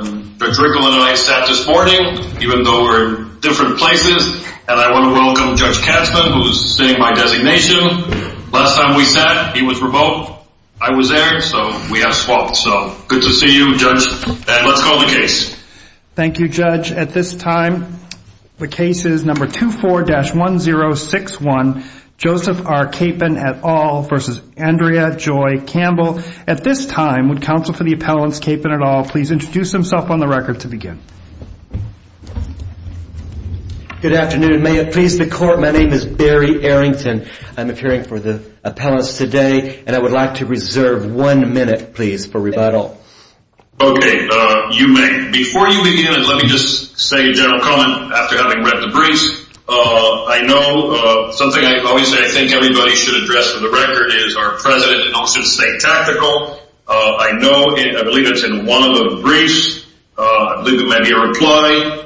at this time would counsel for the appellants Capen et al. please introduce themselves. Thank you, Judge. At this time, the case is number 24-1061, Joseph R. Capen et al. v. Andrea Joy Campbell. At this time, would counsel for the appellants Capen et al. please introduce themselves on the record to begin. Good afternoon. May it please the Court, my name is Barry Arrington. I'm appearing for the appellants today, and I would like to reserve one minute, please, for rebuttal. Okay, you may. Before you begin, let me just say a general comment after having read the briefs. I know something I always say I think everybody should address on the record is our President announced his state tactical. I know and I believe it's in one of the briefs. I believe it may be a reply.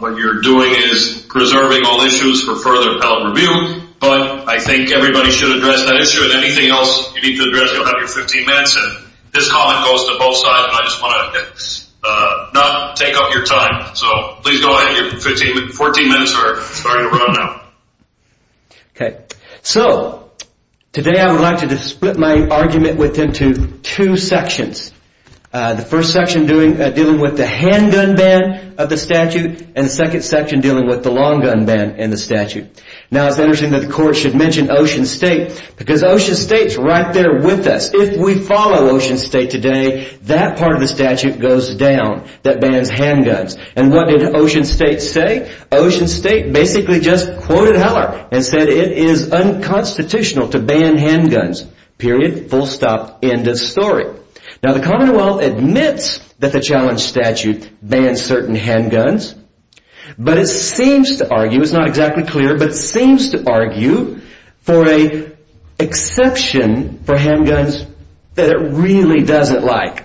What you're doing is preserving all issues for further appellate review, but I think everybody should address that issue, and anything else you need to address, you'll have your 15 minutes, and this comment goes to both sides, and I just want to not take up your time. So, please go ahead. Your 14 minutes are starting to run out. Okay. So, today I would like to split my argument into two sections. The first section dealing with the handgun ban of the statute, and the second section dealing with the long gun ban in the statute. Now, it's interesting that the Court should mention Ocean State, because Ocean State is right there with us. If we follow Ocean State today, that part of the statute goes down that bans handguns. And what did Ocean State say? Ocean State basically just quoted Heller and said it is unconstitutional to ban handguns. Period. Full stop. End of story. Now, the Commonwealth admits that the challenge statute bans certain handguns, but it seems to argue, it's not exactly clear, but it seems to argue for an exception for handguns that it really doesn't like.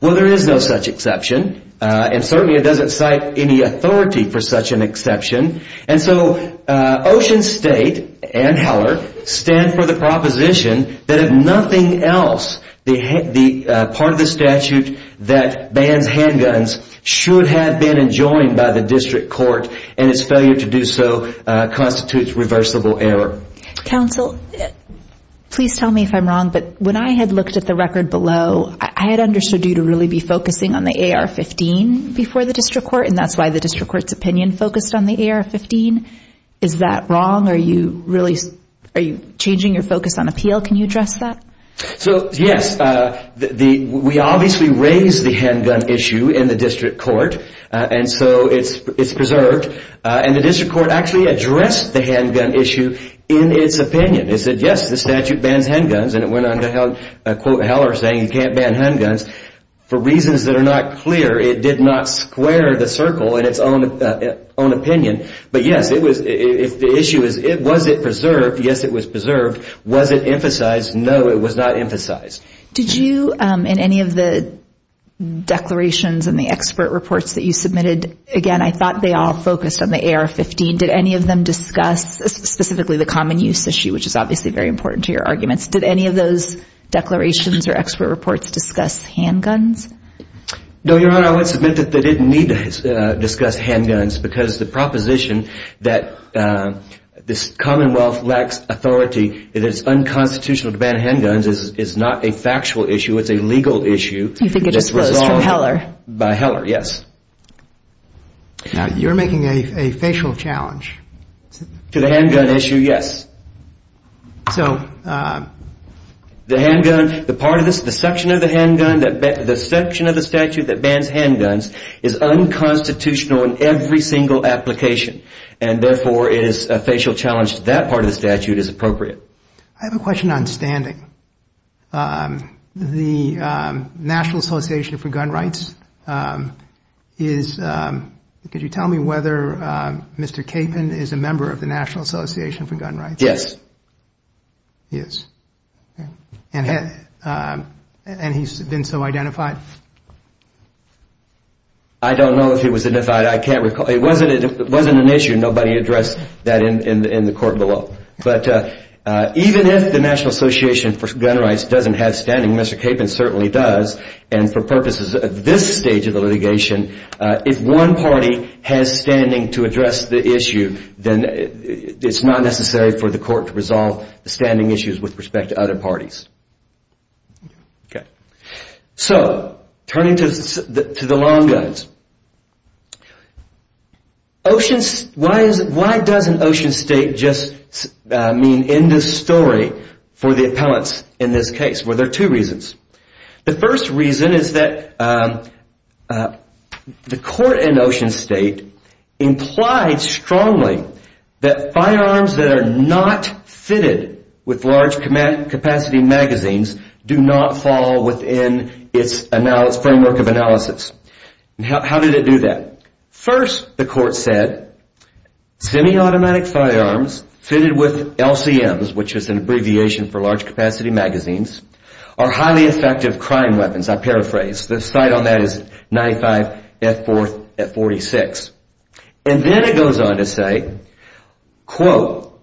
Well, there is no such exception, and certainly it doesn't cite any authority for such an exception, and so Ocean State and Heller stand for the proposition that if nothing else, the part of the statute that bans handguns should have been enjoined by the District Court, and its failure to do so constitutes reversible error. Counsel, please tell me if I'm wrong, but when I had looked at the record below, I had understood you to really be focusing on the AR-15 before the District Court, and that's why the District Court's opinion focused on the AR-15. Is that wrong? Are you changing your focus on appeal? Can you address that? So, yes, we obviously raised the handgun issue in the District Court, and so it's preserved, and the District Court actually addressed the handgun issue in its opinion. It said, yes, the statute bans handguns, and it went on to quote Heller saying you can't ban handguns, for reasons that are not clear, it did not square the circle in its own opinion, but, yes, the issue is was it preserved? Yes, it was preserved. Was it emphasized? No, it was not emphasized. Did you, in any of the declarations and the expert reports that you submitted, again, I thought they all focused on the AR-15. Did any of them discuss specifically the common use issue, which is obviously very important to your arguments. Did any of those declarations or expert reports discuss handguns? No, Your Honor, I would submit that they didn't need to discuss handguns because the proposition that this Commonwealth lacks authority, that it's unconstitutional to ban handguns, is not a factual issue, it's a legal issue. You think it just flows from Heller? By Heller, yes. You're making a facial challenge. To the handgun issue, yes. So, the handgun, the part of this, the section of the handgun, the section of the statute that bans handguns is unconstitutional in every single application, and, therefore, it is a facial challenge to that part of the statute as appropriate. I have a question on standing. The National Association for Gun Rights is, could you tell me whether Mr. Capon is a member of the National Association for Gun Rights? Yes. Yes. And he's been so identified? I don't know if he was identified. I can't recall. It wasn't an issue. Nobody addressed that in the court below. But even if the National Association for Gun Rights doesn't have standing, Mr. Capon certainly does, and for purposes of this stage of the litigation, if one party has standing to address the issue, then it's not necessary for the court to resolve the standing issues with respect to other parties. Okay. So, turning to the long guns. Why doesn't Ocean State just mean end of story for the appellants in this case? Well, there are two reasons. The first reason is that the court in Ocean State implied strongly that firearms that are not fitted with large capacity magazines do not fall within its framework of analysis. How did it do that? First, the court said, semi-automatic firearms fitted with LCMs, which is an abbreviation for large capacity magazines, are highly effective crime weapons. I paraphrase. The cite on that is 95F4F46. And then it goes on to say, quote,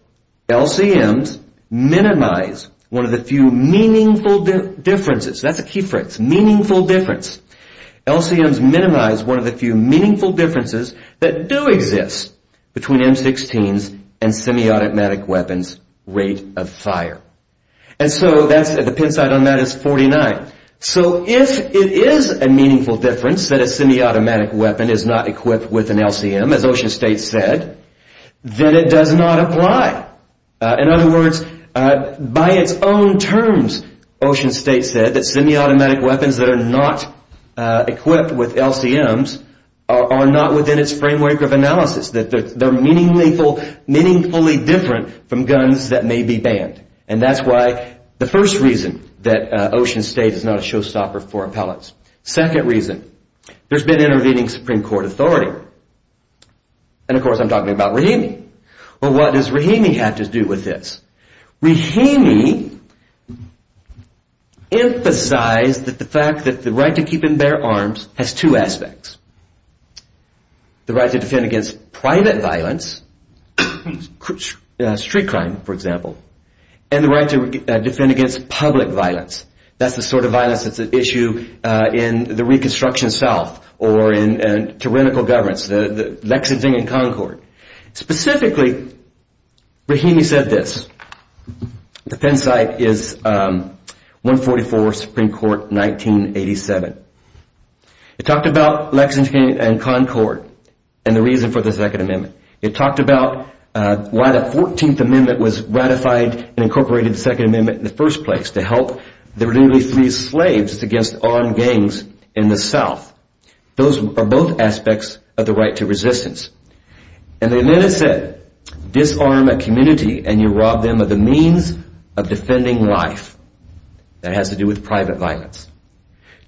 LCMs minimize one of the few meaningful differences. That's a key phrase. Meaningful difference. LCMs minimize one of the few meaningful differences that do exist between M16s and semi-automatic weapons' rate of fire. And so, the pin site on that is 49. So, if it is a meaningful difference that a semi-automatic weapon is not equipped with an LCM, as Ocean State said, then it does not apply. In other words, by its own terms, Ocean State said, that semi-automatic weapons that are not equipped with LCMs are not within its framework of analysis. That they're meaningfully different from guns that may be banned. And that's why the first reason that Ocean State is not a showstopper for appellants. Second reason, there's been intervening Supreme Court authority. And, of course, I'm talking about Rahimi. Well, what does Rahimi have to do with this? Rahimi emphasized that the fact that the right to keep and bear arms has two aspects. The right to defend against private violence. Street crime, for example. And the right to defend against public violence. That's the sort of violence that's an issue in the Reconstruction South. Or in tyrannical governments. Lexington and Concord. Specifically, Rahimi said this. The pin site is 144 Supreme Court, 1987. It talked about Lexington and Concord. And the reason for the Second Amendment. It talked about why the 14th Amendment was ratified and incorporated the Second Amendment in the first place. To help the religiously free slaves against armed gangs in the South. Those are both aspects of the right to resistance. And the amendment said, disarm a community and you rob them of the means of defending life. That has to do with private violence.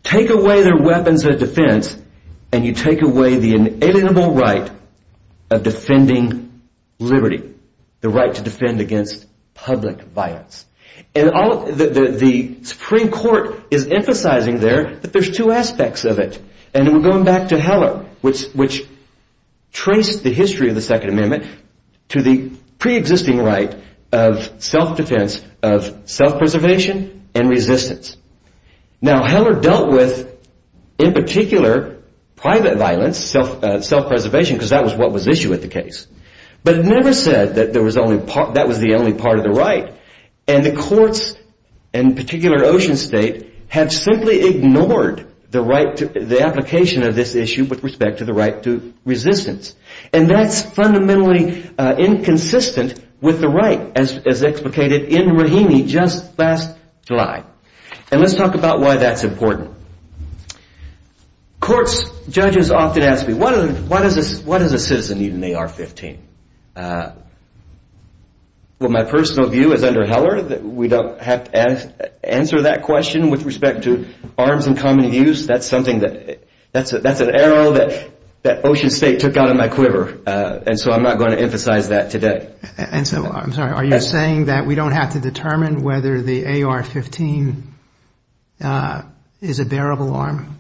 Take away their weapons of defense and you take away the inalienable right of defending liberty. The right to defend against public violence. And the Supreme Court is emphasizing there that there's two aspects of it. And we're going back to Heller, which traced the history of the Second Amendment to the pre-existing right of self-defense, of self-preservation and resistance. Now, Heller dealt with, in particular, private violence, self-preservation, because that was what was at issue with the case. But never said that that was the only part of the right. And the courts, in particular Ocean State, have simply ignored the application of this issue with respect to the right to resistance. And that's fundamentally inconsistent with the right, as explicated in Raheny just last July. And let's talk about why that's important. Courts, judges often ask me, what does a citizen need in the AR-15? Well, my personal view is under Heller that we don't have to answer that question with respect to arms in common use. That's an arrow that Ocean State took out of my quiver. And so I'm not going to emphasize that today. And so, I'm sorry, are you saying that we don't have to determine whether the AR-15 is a bearable arm?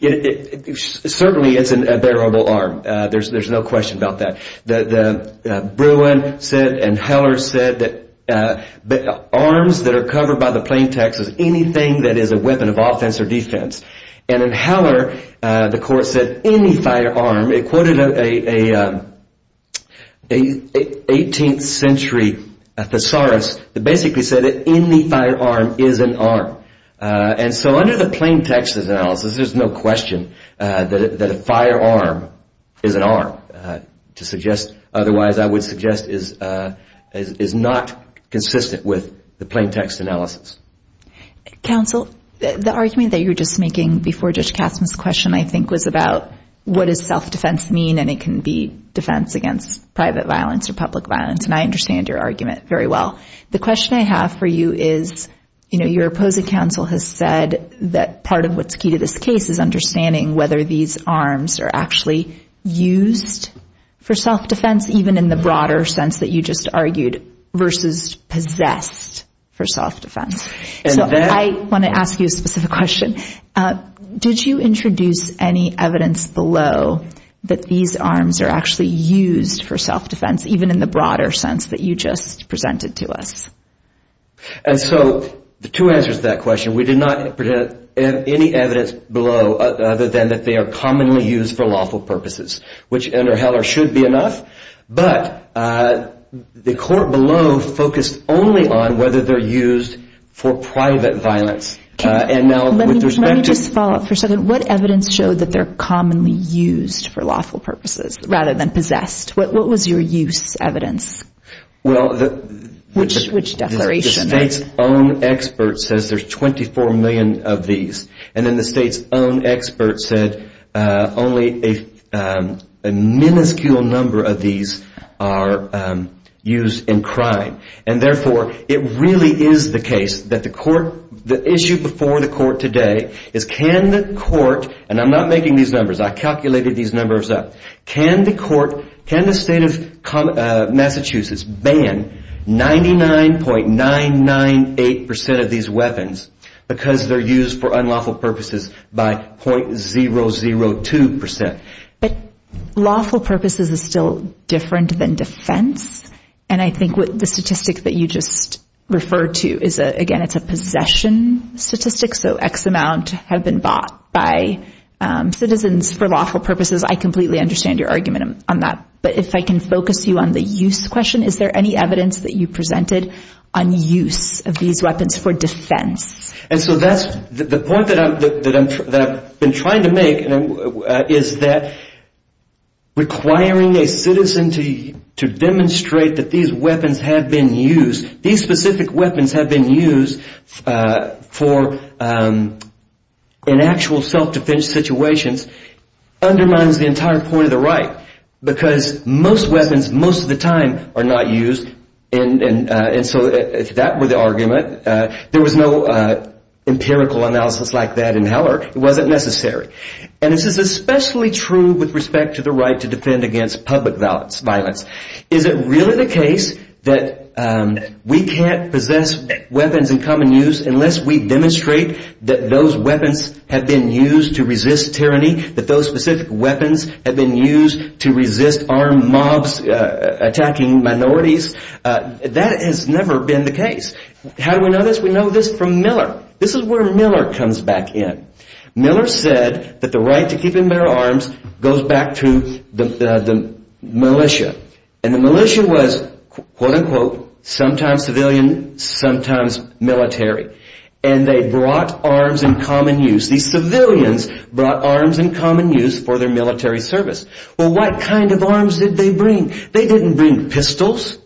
It certainly is a bearable arm. There's no question about that. Bruin said, and Heller said, that arms that are covered by the plain text is anything that is a weapon of offense or defense. And in Heller, the court said any firearm, it quoted an 18th century thesaurus that basically said that any firearm is an arm. And so under the plain text analysis, there's no question that a firearm is an arm. Otherwise, I would suggest it's not consistent with the plain text analysis. Counsel, the argument that you were just making before Judge Kasman's question, I think, was about what does self-defense mean, and it can be defense against private violence or public violence. And I understand your argument very well. The question I have for you is, you know, your opposing counsel has said that part of what's key to this case is understanding whether these arms are actually used for self-defense, even in the broader sense that you just argued, versus possessed for self-defense. So I want to ask you a specific question. Did you introduce any evidence below that these arms are actually used for self-defense, even in the broader sense that you just presented to us? And so the two answers to that question, we did not present any evidence below other than that they are commonly used for lawful purposes, which under Heller should be enough. But the court below focused only on whether they're used for private violence. Let me just follow up for a second. What evidence showed that they're commonly used for lawful purposes, rather than possessed? What was your use evidence? Well, the state's own expert says there's 24 million of these. And then the state's own expert said only a minuscule number of these are used in crime. And therefore, it really is the case that the issue before the court today is can the court, and I'm not making these numbers, I calculated these numbers up, can the state of Massachusetts ban 99.998% of these weapons because they're used for unlawful purposes by .002%? But lawful purposes is still different than defense. And I think the statistic that you just referred to, again, it's a possession statistic, so X amount have been bought by citizens for lawful purposes. I completely understand your argument on that. But if I can focus you on the use question, is there any evidence that you presented on use of these weapons for defense? And so the point that I've been trying to make is that requiring a citizen to demonstrate that these weapons have been used, these specific weapons have been used in actual self-defense situations undermines the entire point of the right because most weapons most of the time are not used. And so if that were the argument, there was no empirical analysis like that in Heller. It wasn't necessary. And this is especially true with respect to the right to defend against public violence. Is it really the case that we can't possess weapons in common use unless we demonstrate that those weapons have been used to resist tyranny, that those specific weapons have been used to resist armed mobs attacking minorities? That has never been the case. How do we know this? We know this from Miller. This is where Miller comes back in. Miller said that the right to keep and bear arms goes back to the militia. And the militia was, quote-unquote, sometimes civilian, sometimes military. And they brought arms in common use. These civilians brought arms in common use for their military service. Well, what kind of arms did they bring? They didn't bring pistols.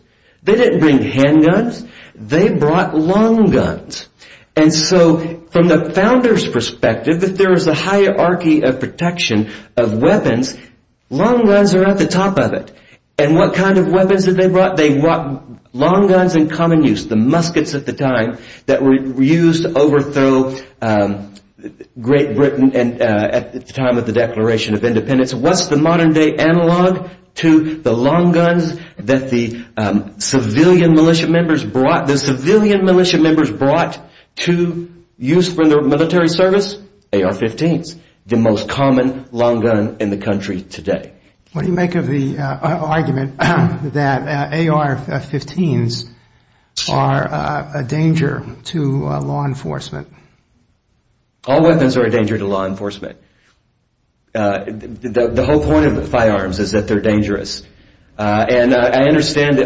They didn't bring handguns. They brought long guns. And so from the founders' perspective, if there is a hierarchy of protection of weapons, long guns are at the top of it. And what kind of weapons did they brought? They brought long guns in common use, the muskets at the time, that were used to overthrow Great Britain at the time of the Declaration of Independence. What's the modern-day analog to the long guns that the civilian militia members brought? What the civilian militia members brought to use for their military service? AR-15s, the most common long gun in the country today. What do you make of the argument that AR-15s are a danger to law enforcement? All weapons are a danger to law enforcement. The whole point of firearms is that they're dangerous. And I understand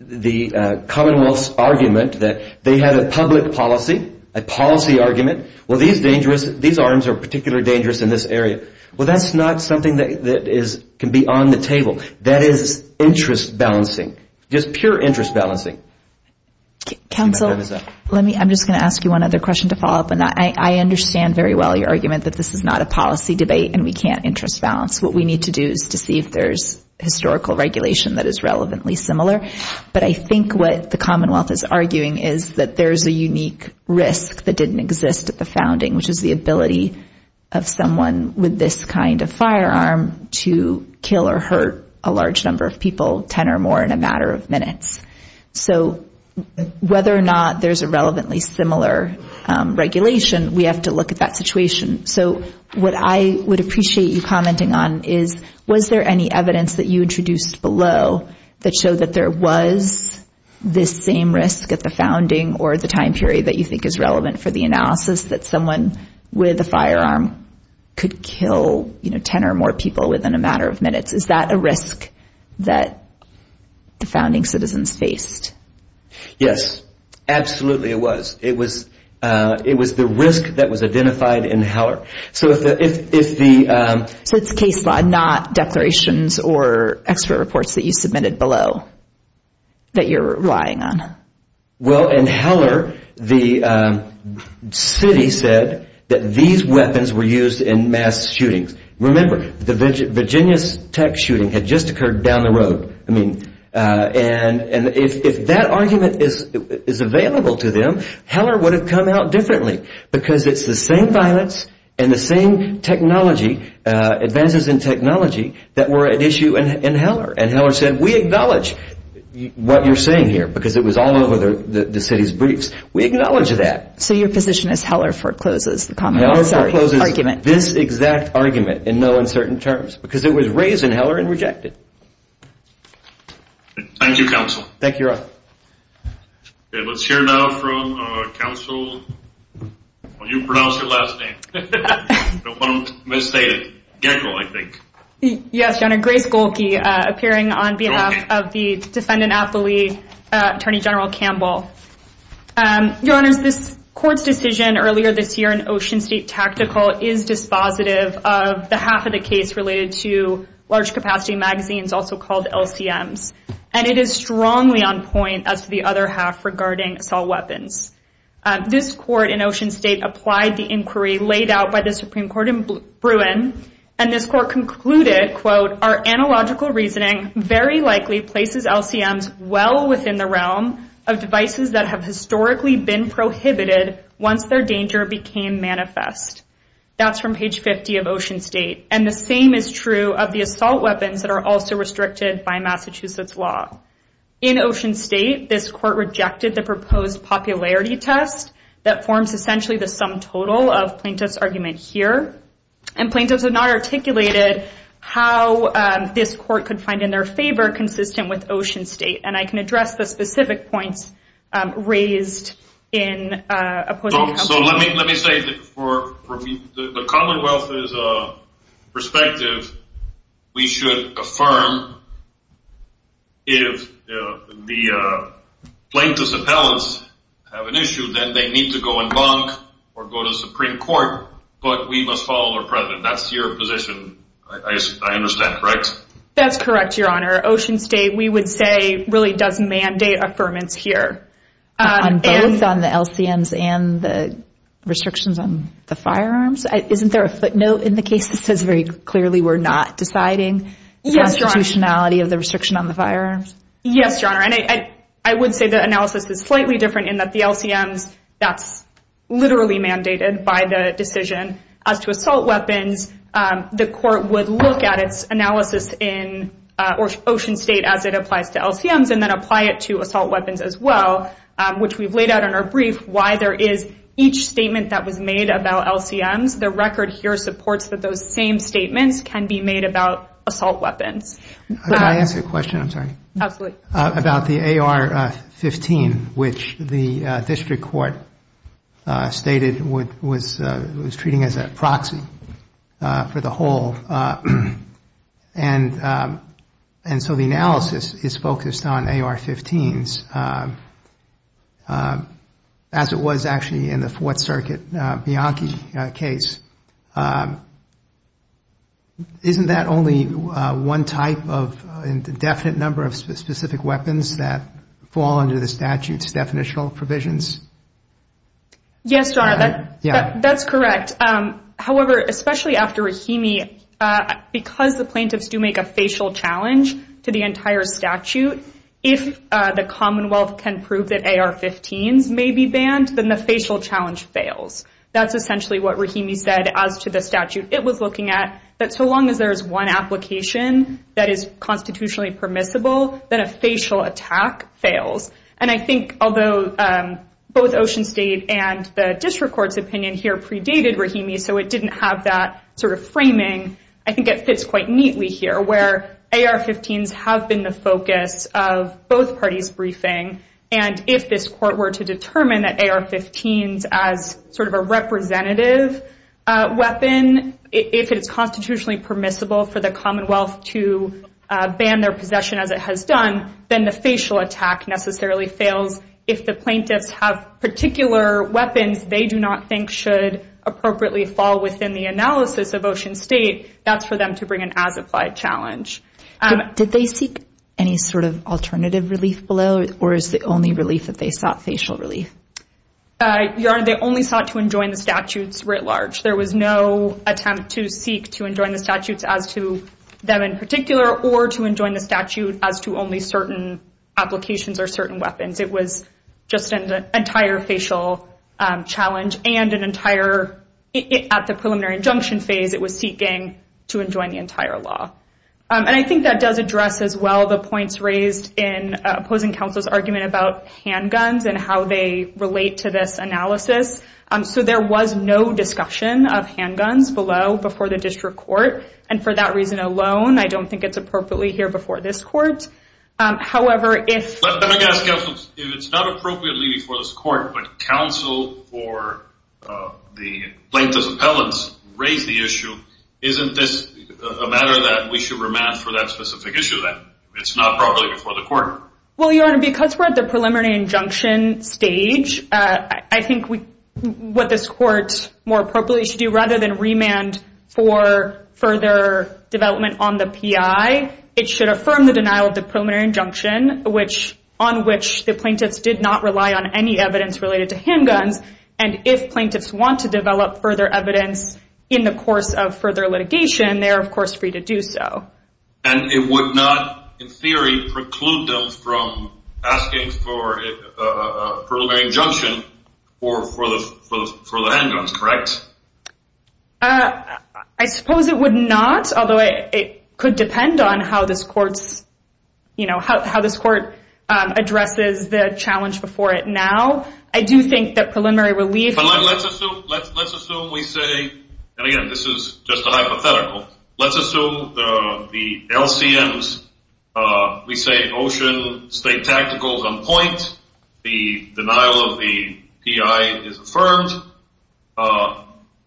the commonwealth's argument that they had a public policy, a policy argument. Well, these arms are particularly dangerous in this area. Well, that's not something that can be on the table. That is interest balancing, just pure interest balancing. Counsel, I'm just going to ask you one other question to follow up on that. I understand very well your argument that this is not a policy debate and we can't interest balance. What we need to do is to see if there's historical regulation that is relevantly similar. But I think what the commonwealth is arguing is that there's a unique risk that didn't exist at the founding, which is the ability of someone with this kind of firearm to kill or hurt a large number of people, 10 or more in a matter of minutes. So whether or not there's a relevantly similar regulation, we have to look at that situation. So what I would appreciate you commenting on is was there any evidence that you introduced below that showed that there was this same risk at the founding or the time period that you think is relevant for the analysis that someone with a firearm could kill, you know, 10 or more people within a matter of minutes? Is that a risk that the founding citizens faced? Yes, absolutely it was. It was the risk that was identified in Heller. So it's case law, not declarations or expert reports that you submitted below that you're relying on. Well, in Heller, the city said that these weapons were used in mass shootings. Remember, the Virginia Tech shooting had just occurred down the road. And if that argument is available to them, Heller would have come out differently because it's the same violence and the same technology, advances in technology, that were at issue in Heller. And Heller said, we acknowledge what you're saying here because it was all over the city's briefs. We acknowledge that. So your position is Heller forecloses the argument. Heller forecloses this exact argument in no uncertain terms because it was raised in Heller and rejected. Thank you, counsel. Thank you, Your Honor. Let's hear now from counsel. Will you pronounce your last name? Don't want to misstate it. Yes, Your Honor, Grace Golke, appearing on behalf of the defendant at the lead, Attorney General Campbell. Your Honor, this court's decision earlier this year in Ocean State Tactical is dispositive of the half of the case related to large capacity magazines, also called LCMs. And it is strongly on point as the other half regarding assault weapons. This court in Ocean State applied the inquiry laid out by the Supreme Court in Bruin. And this court concluded, quote, our analogical reasoning very likely places LCMs well within the realm of devices that have historically been prohibited once their danger became manifest. That's from page 50 of Ocean State. And the same is true of the assault weapons that are also restricted by Massachusetts law. In Ocean State, this court rejected the proposed popularity test that forms essentially the sum total of plaintiff's argument here. And plaintiffs have not articulated how this court could find in their favor consistent with Ocean State. And I can address the specific points raised in opposing counsel. So let me say that for the Commonwealth's perspective, we should affirm if the plaintiff's appellants have an issue, then they need to go and bonk or go to the Supreme Court. But we must follow our president. That's your position, I understand, right? That's correct, Your Honor. Ocean State, we would say, really does mandate affirmance here. Both on the LCMs and the restrictions on the firearms. Isn't there a footnote in the case that says very clearly we're not deciding the constitutionality of the restriction on the firearms? Yes, Your Honor. And I would say the analysis is slightly different in that the LCMs, that's literally mandated by the decision. As to assault weapons, the court would look at its analysis in Ocean State as it applies to LCMs and then apply it to assault weapons as well, which we've laid out in our brief why there is each statement that was made about LCMs. The record here supports that those same statements can be made about assault weapons. Can I ask a question? I'm sorry. Absolutely. About the AR-15, which the district court stated was treating as a proxy for the whole. And so the analysis is focused on AR-15s, as it was actually in the Fourth Circuit Bianchi case. Isn't that only one type of indefinite number of specific weapons that fall under the statute's definitional provisions? Yes, Your Honor. That's correct. However, especially after Rahimi, because the plaintiffs do make a facial challenge to the entire statute, if the Commonwealth can prove that AR-15s may be banned, then the facial challenge fails. That's essentially what Rahimi said as to the statute it was looking at, that so long as there is one application that is constitutionally permissible, then a facial attack fails. And I think although both Ocean State and the district court's opinion here predated Rahimi, so it didn't have that sort of framing, I think it fits quite neatly here, where AR-15s have been the focus of both parties' briefing. And if this court were to determine that AR-15s as sort of a representative weapon, if it's constitutionally permissible for the Commonwealth to ban their possession as it has done, then the facial attack necessarily fails. If the plaintiffs have particular weapons they do not think should appropriately fall within the analysis of Ocean State, that's for them to bring an as-applied challenge. Did they seek any sort of alternative relief below, or is the only relief that they sought facial relief? Your Honor, they only sought to enjoin the statutes writ large. There was no attempt to seek to enjoin the statutes as to them in particular, or to enjoin the statute as to only certain applications or certain weapons. It was just an entire facial challenge and an entire, at the preliminary injunction phase, it was seeking to enjoin the entire law. And I think that does address as well the points raised in opposing counsel's argument about handguns and how they relate to this analysis. So there was no discussion of handguns below before the district court, and for that reason alone I don't think it's appropriately here before this court. Let me ask counsel, if it's not appropriately before this court, but counsel for the plaintiff's appellants raised the issue, isn't this a matter that we should remand for that specific issue then? It's not properly before the court. Well, Your Honor, because we're at the preliminary injunction stage, I think what this court more appropriately should do rather than remand for further development on the PI, it should affirm the denial of the preliminary injunction, on which the plaintiffs did not rely on any evidence related to handguns, and if plaintiffs want to develop further evidence in the course of further litigation, they are of course free to do so. And it would not, in theory, preclude them from asking for a preliminary injunction for the handguns, correct? I suppose it would not, although it could depend on how this court addresses the challenge before it now. I do think that preliminary relief... But let's assume we say, and again this is just a hypothetical, let's assume the LCMs, we say Ocean State Tactical is on point, the denial of the PI is affirmed,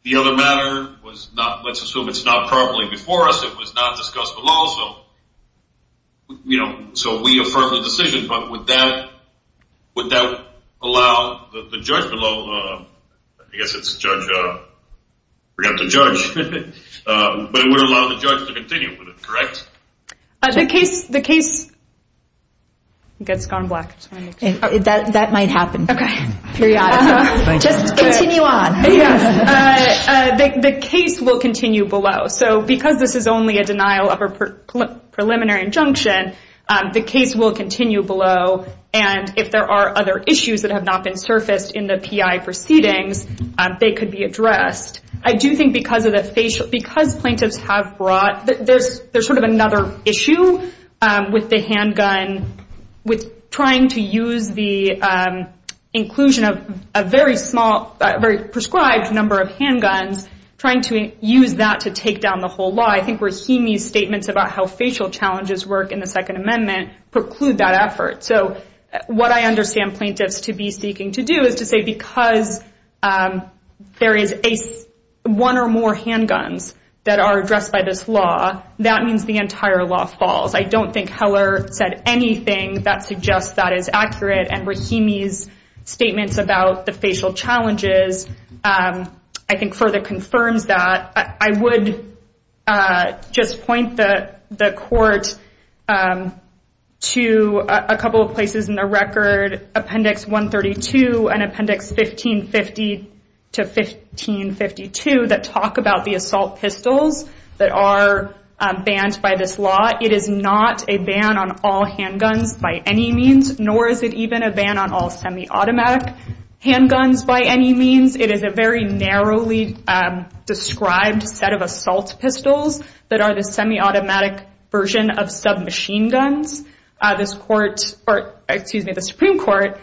the other matter was not, let's assume it's not properly before us, it was not discussed below, so we affirm the decision. But would that allow the judge below, I guess it's judge, I forgot the judge, but it would allow the judge to continue with it, correct? The case gets gone black. That might happen. Just continue on. The case will continue below. So because this is only a denial of a preliminary injunction, the case will continue below, and if there are other issues that have not been surfaced in the PI proceedings, they could be addressed. I do think because plaintiffs have brought, there's sort of another issue with the handgun, with trying to use the inclusion of a very small, very prescribed number of handguns, trying to use that to take down the whole law. I think Rahimi's statements about how facial challenges work in the Second Amendment preclude that effort. So what I understand plaintiffs to be seeking to do is to say because there is one or more handguns that are addressed by this law, that means the entire law falls. I don't think Heller said anything that suggests that is accurate, and Rahimi's statements about the facial challenges I think further confirms that. I would just point the court to a couple of places in the record, Appendix 132 and Appendix 1550 to 1552, that talk about the assault pistols that are banned by this law. It is not a ban on all handguns by any means, nor is it even a ban on all semi-automatic handguns by any means. It is a very narrowly described set of assault pistols that are the semi-automatic version of submachine guns. The Supreme Court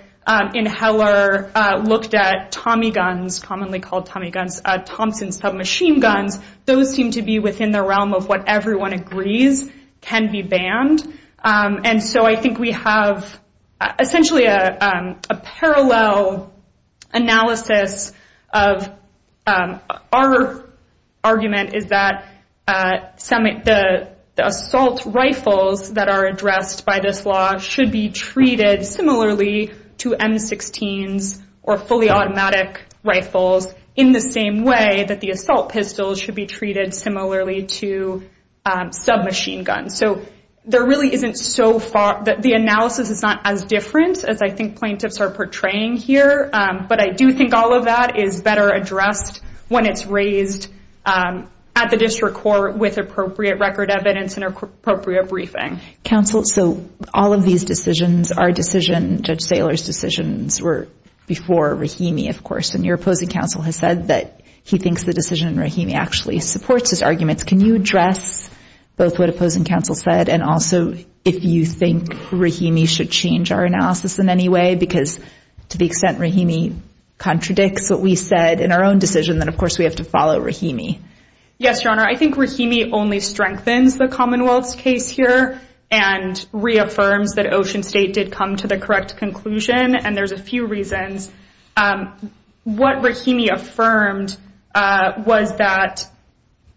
in Heller looked at Tommy guns, commonly called Tommy guns, Thompson submachine guns. Those seem to be within the realm of what everyone agrees can be banned. I think we have essentially a parallel analysis of our argument is that the assault rifles that are addressed by this law should be treated similarly to M16s or fully automatic rifles in the same way that the assault pistols should be treated similarly to submachine guns. The analysis is not as different as I think plaintiffs are portraying here, but I do think all of that is better addressed when it's raised at the district court with appropriate record evidence and appropriate briefing. Counsel, all of these decisions, Judge Saylor's decisions were before Rahimi, of course, and your opposing counsel has said that he thinks the decision in Rahimi actually supports his arguments. Can you address both what opposing counsel said and also if you think Rahimi should change our analysis in any way? Because to the extent Rahimi contradicts what we said in our own decision, then of course we have to follow Rahimi. Yes, Your Honor, I think Rahimi only strengthens the Commonwealth's case here and reaffirms that Ocean State did come to the correct conclusion, and there's a few reasons. What Rahimi affirmed was that,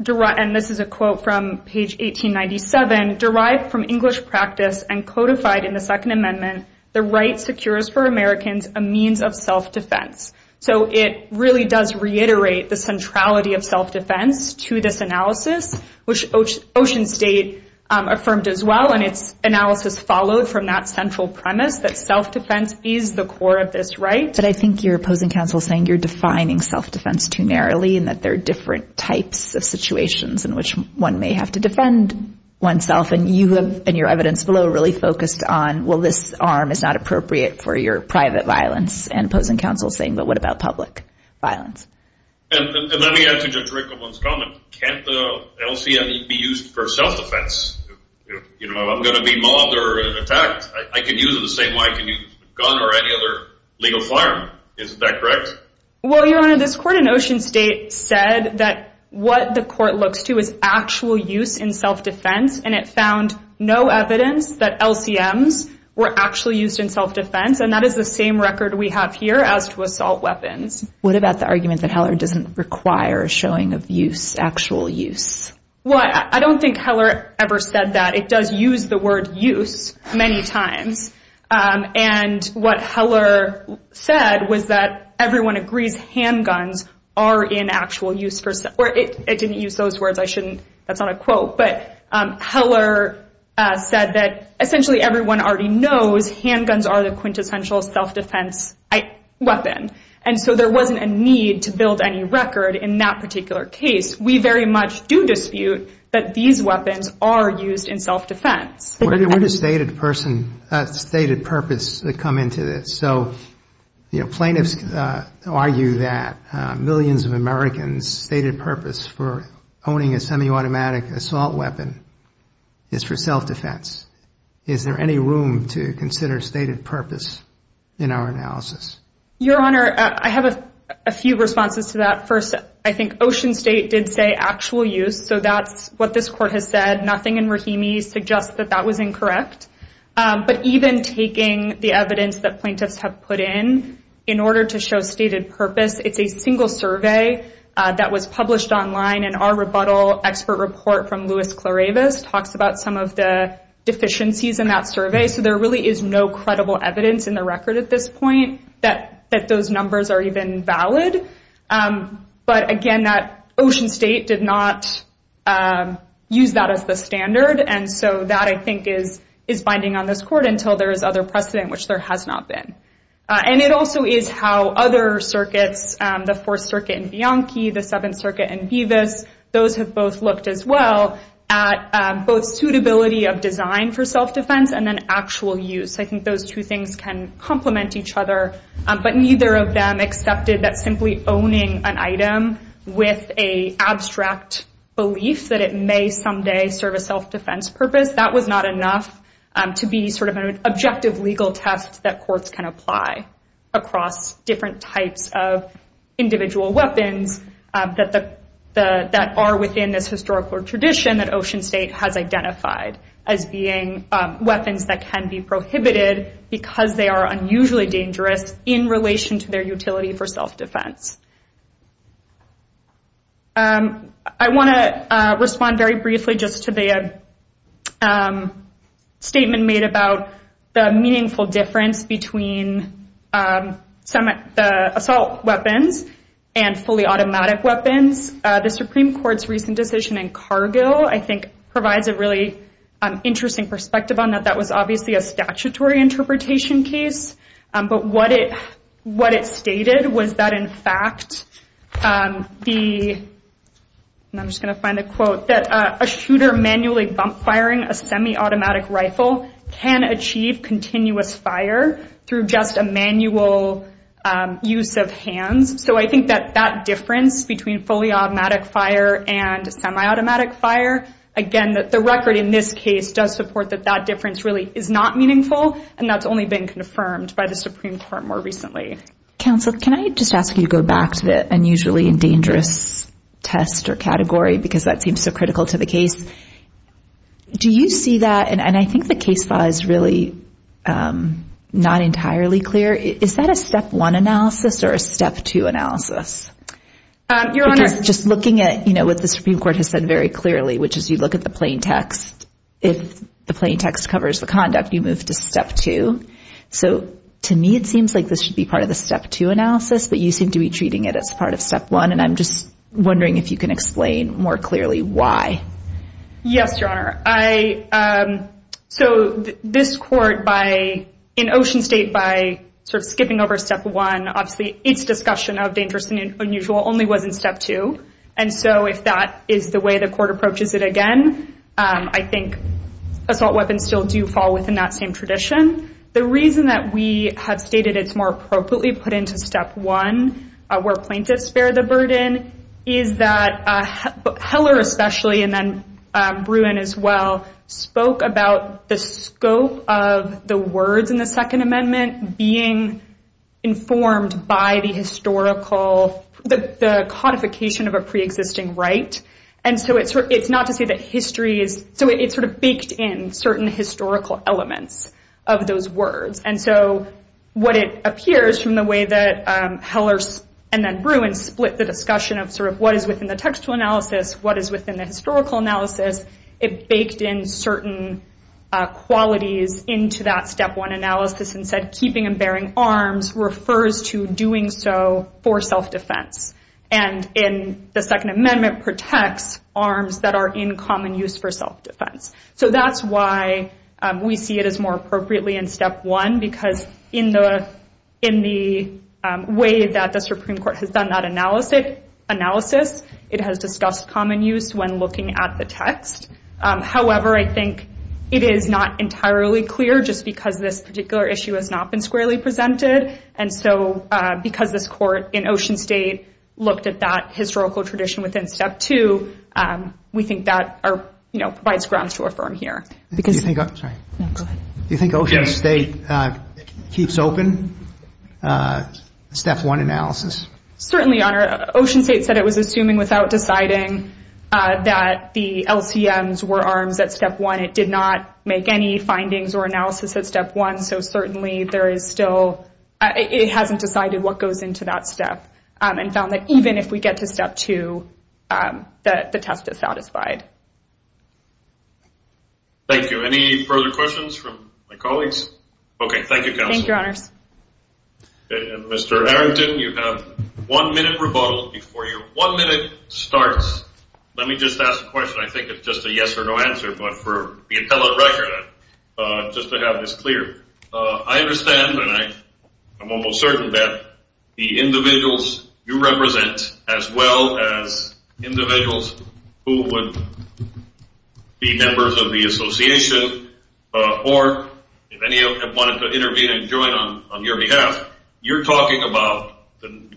and this is a quote from page 1897, derived from English practice and codified in the Second Amendment, the right secures for Americans a means of self-defense. So it really does reiterate the centrality of self-defense to this analysis, which Ocean State affirmed as well, and its analysis followed from that central premise that self-defense is the core of this right. But I think your opposing counsel is saying you're defining self-defense too narrowly and that there are different types of situations in which one may have to defend oneself, and you have in your evidence below really focused on, well, this arm is not appropriate for your private violence, and opposing counsel is saying, but what about public violence? And let me add to Judge Rickleman's comment. Can't the LCM be used for self-defense? I'm going to be mauled or attacked. I can use it the same way I can use a gun or any other legal firearm. Isn't that correct? Well, Your Honor, this court in Ocean State said that what the court looks to is actual use in self-defense, and it found no evidence that LCMs were actually used in self-defense, and that is the same record we have here as to assault weapons. What about the argument that Heller doesn't require a showing of use, actual use? Well, I don't think Heller ever said that. It does use the word use many times, and what Heller said was that everyone agrees handguns are in actual use for self-defense. It didn't use those words. I shouldn't. That's not a quote. But Heller said that essentially everyone already knows handguns are the quintessential self-defense weapon, and so there wasn't a need to build any record in that particular case. We very much do dispute that these weapons are used in self-defense. Where does stated purpose come into this? So plaintiffs argue that millions of Americans' stated purpose for owning a semi-automatic assault weapon is for self-defense. Is there any room to consider stated purpose in our analysis? Your Honor, I have a few responses to that. First, I think Ocean State did say actual use, so that's what this court has said. Nothing in Rahimi suggests that that was incorrect. But even taking the evidence that plaintiffs have put in, in order to show stated purpose, it's a single survey that was published online, and our rebuttal expert report from Luis Claravis talks about some of the deficiencies in that survey, so there really is no credible evidence in the record at this point that those numbers are even valid. But again, Ocean State did not use that as the standard, and so that, I think, is binding on this court until there is other precedent, which there has not been. And it also is how other circuits, the Fourth Circuit in Bianchi, the Seventh Circuit in Bevis, those have both looked as well at both suitability of design for self-defense and then actual use. I think those two things can complement each other, but neither of them accepted that simply owning an item with an abstract belief that it may someday serve a self-defense purpose, that was not enough to be sort of an objective legal test that courts can apply across different types of individual weapons, that are within this historical tradition that Ocean State has identified as being weapons that can be prohibited because they are unusually dangerous in relation to their utility for self-defense. I want to respond very briefly just to the statement made about the meaningful difference between the assault weapons and fully automatic weapons. The Supreme Court's recent decision in Cargill, I think, provides a really interesting perspective on that. That was obviously a statutory interpretation case. But what it stated was that, in fact, the—and I'm just going to find the quote— that a shooter manually bump-firing a semi-automatic rifle can achieve continuous fire through just a manual use of hands. So I think that that difference between fully automatic fire and semi-automatic fire, again, that the record in this case does support that that difference really is not meaningful, and that's only been confirmed by the Supreme Court more recently. Counsel, can I just ask you to go back to the unusually dangerous test or category, because that seems so critical to the case? Do you see that—and I think the case law is really not entirely clear. Is that a step one analysis or a step two analysis? Your Honor— Because just looking at, you know, what the Supreme Court has said very clearly, which is you look at the plain text, if the plain text covers the conduct, you move to step two. So to me, it seems like this should be part of the step two analysis, but you seem to be treating it as part of step one, and I'm just wondering if you can explain more clearly why. Yes, Your Honor. So this court, in Ocean State, by sort of skipping over step one, obviously its discussion of dangerous and unusual only was in step two. And so if that is the way the court approaches it again, I think assault weapons still do fall within that same tradition. The reason that we have stated it's more appropriately put into step one, where plaintiffs bear the burden, is that Heller especially, and then Bruin as well, spoke about the scope of the words in the Second Amendment being informed by the codification of a preexisting right. And so it's not to say that history is, so it sort of baked in certain historical elements of those words. And so what it appears from the way that Heller and then Bruin split the discussion of sort of what is within the textual analysis, what is within the historical analysis, it baked in certain qualities into that step one analysis and said keeping and bearing arms refers to doing so for self-defense. And the Second Amendment protects arms that are in common use for self-defense. So that's why we see it as more appropriately in step one, because in the way that the Supreme Court has done that analysis, it has discussed common use when looking at the text. However, I think it is not entirely clear, just because this particular issue has not been squarely presented, and so because this court in Ocean State looked at that historical tradition within step two, we think that provides grounds to affirm here. Do you think Ocean State keeps open step one analysis? Certainly, Your Honor. Ocean State said it was assuming without deciding that the LCMs were arms at step one. It did not make any findings or analysis at step one, so certainly it hasn't decided what goes into that step and found that even if we get to step two, the test is satisfied. Thank you. Any further questions from my colleagues? Okay, thank you, Counsel. Thank you, Your Honors. Mr. Arrington, you have one minute rebuttal before your one minute starts. Let me just ask a question. I think it's just a yes or no answer, but for the appellate record, just to have this clear, I understand and I'm almost certain that the individuals you represent, as well as individuals who would be members of the association or if any of them wanted to intervene and join on your behalf, you're talking about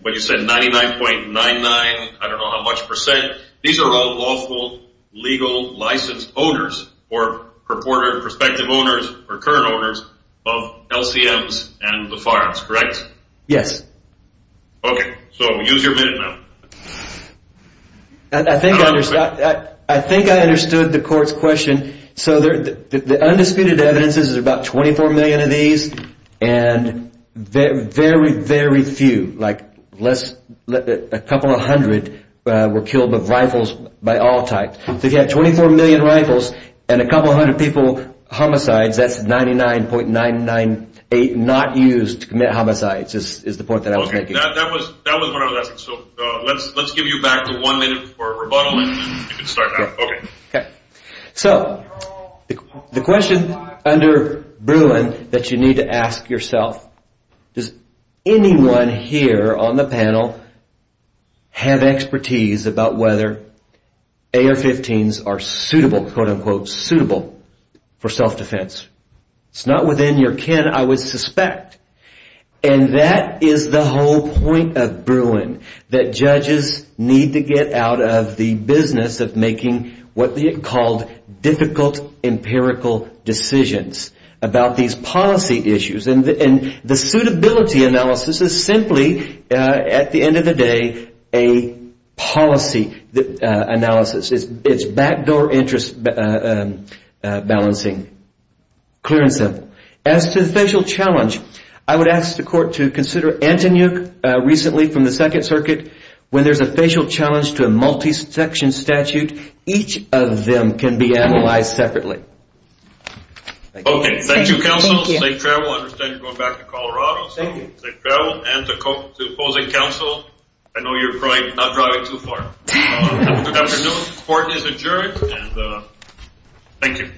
what you said, 99.99, I don't know how much percent. These are all lawful legal licensed owners or purported prospective owners or current owners of LCMs and the firearms, correct? Yes. Okay, so use your minute now. I think I understood the court's question. So the undisputed evidence is about 24 million of these and very, very few, like a couple hundred were killed with rifles by all types. If you had 24 million rifles and a couple hundred people homicides, that's 99.998 not used to commit homicides is the point that I was making. Okay, that was one of the lessons. So let's give you back the one minute for rebuttal and you can start now. So the question under Bruin that you need to ask yourself, does anyone here on the panel have expertise about whether AR-15s are suitable, quote unquote, suitable for self-defense? It's not within your kin, I would suspect. And that is the whole point of Bruin, that judges need to get out of the business of making what they called difficult empirical decisions about these policy issues. And the suitability analysis is simply, at the end of the day, a policy analysis. It's backdoor interest balancing, clear and simple. As to the facial challenge, I would ask the court to consider Antonyuk recently from the Second Circuit. When there's a facial challenge to a multi-section statute, each of them can be analyzed separately. Okay, thank you, counsel. Safe travel. I understand you're going back to Colorado. Safe travel. And to opposing counsel, I know you're probably not driving too far. Good afternoon. Court is adjourned. Thank you.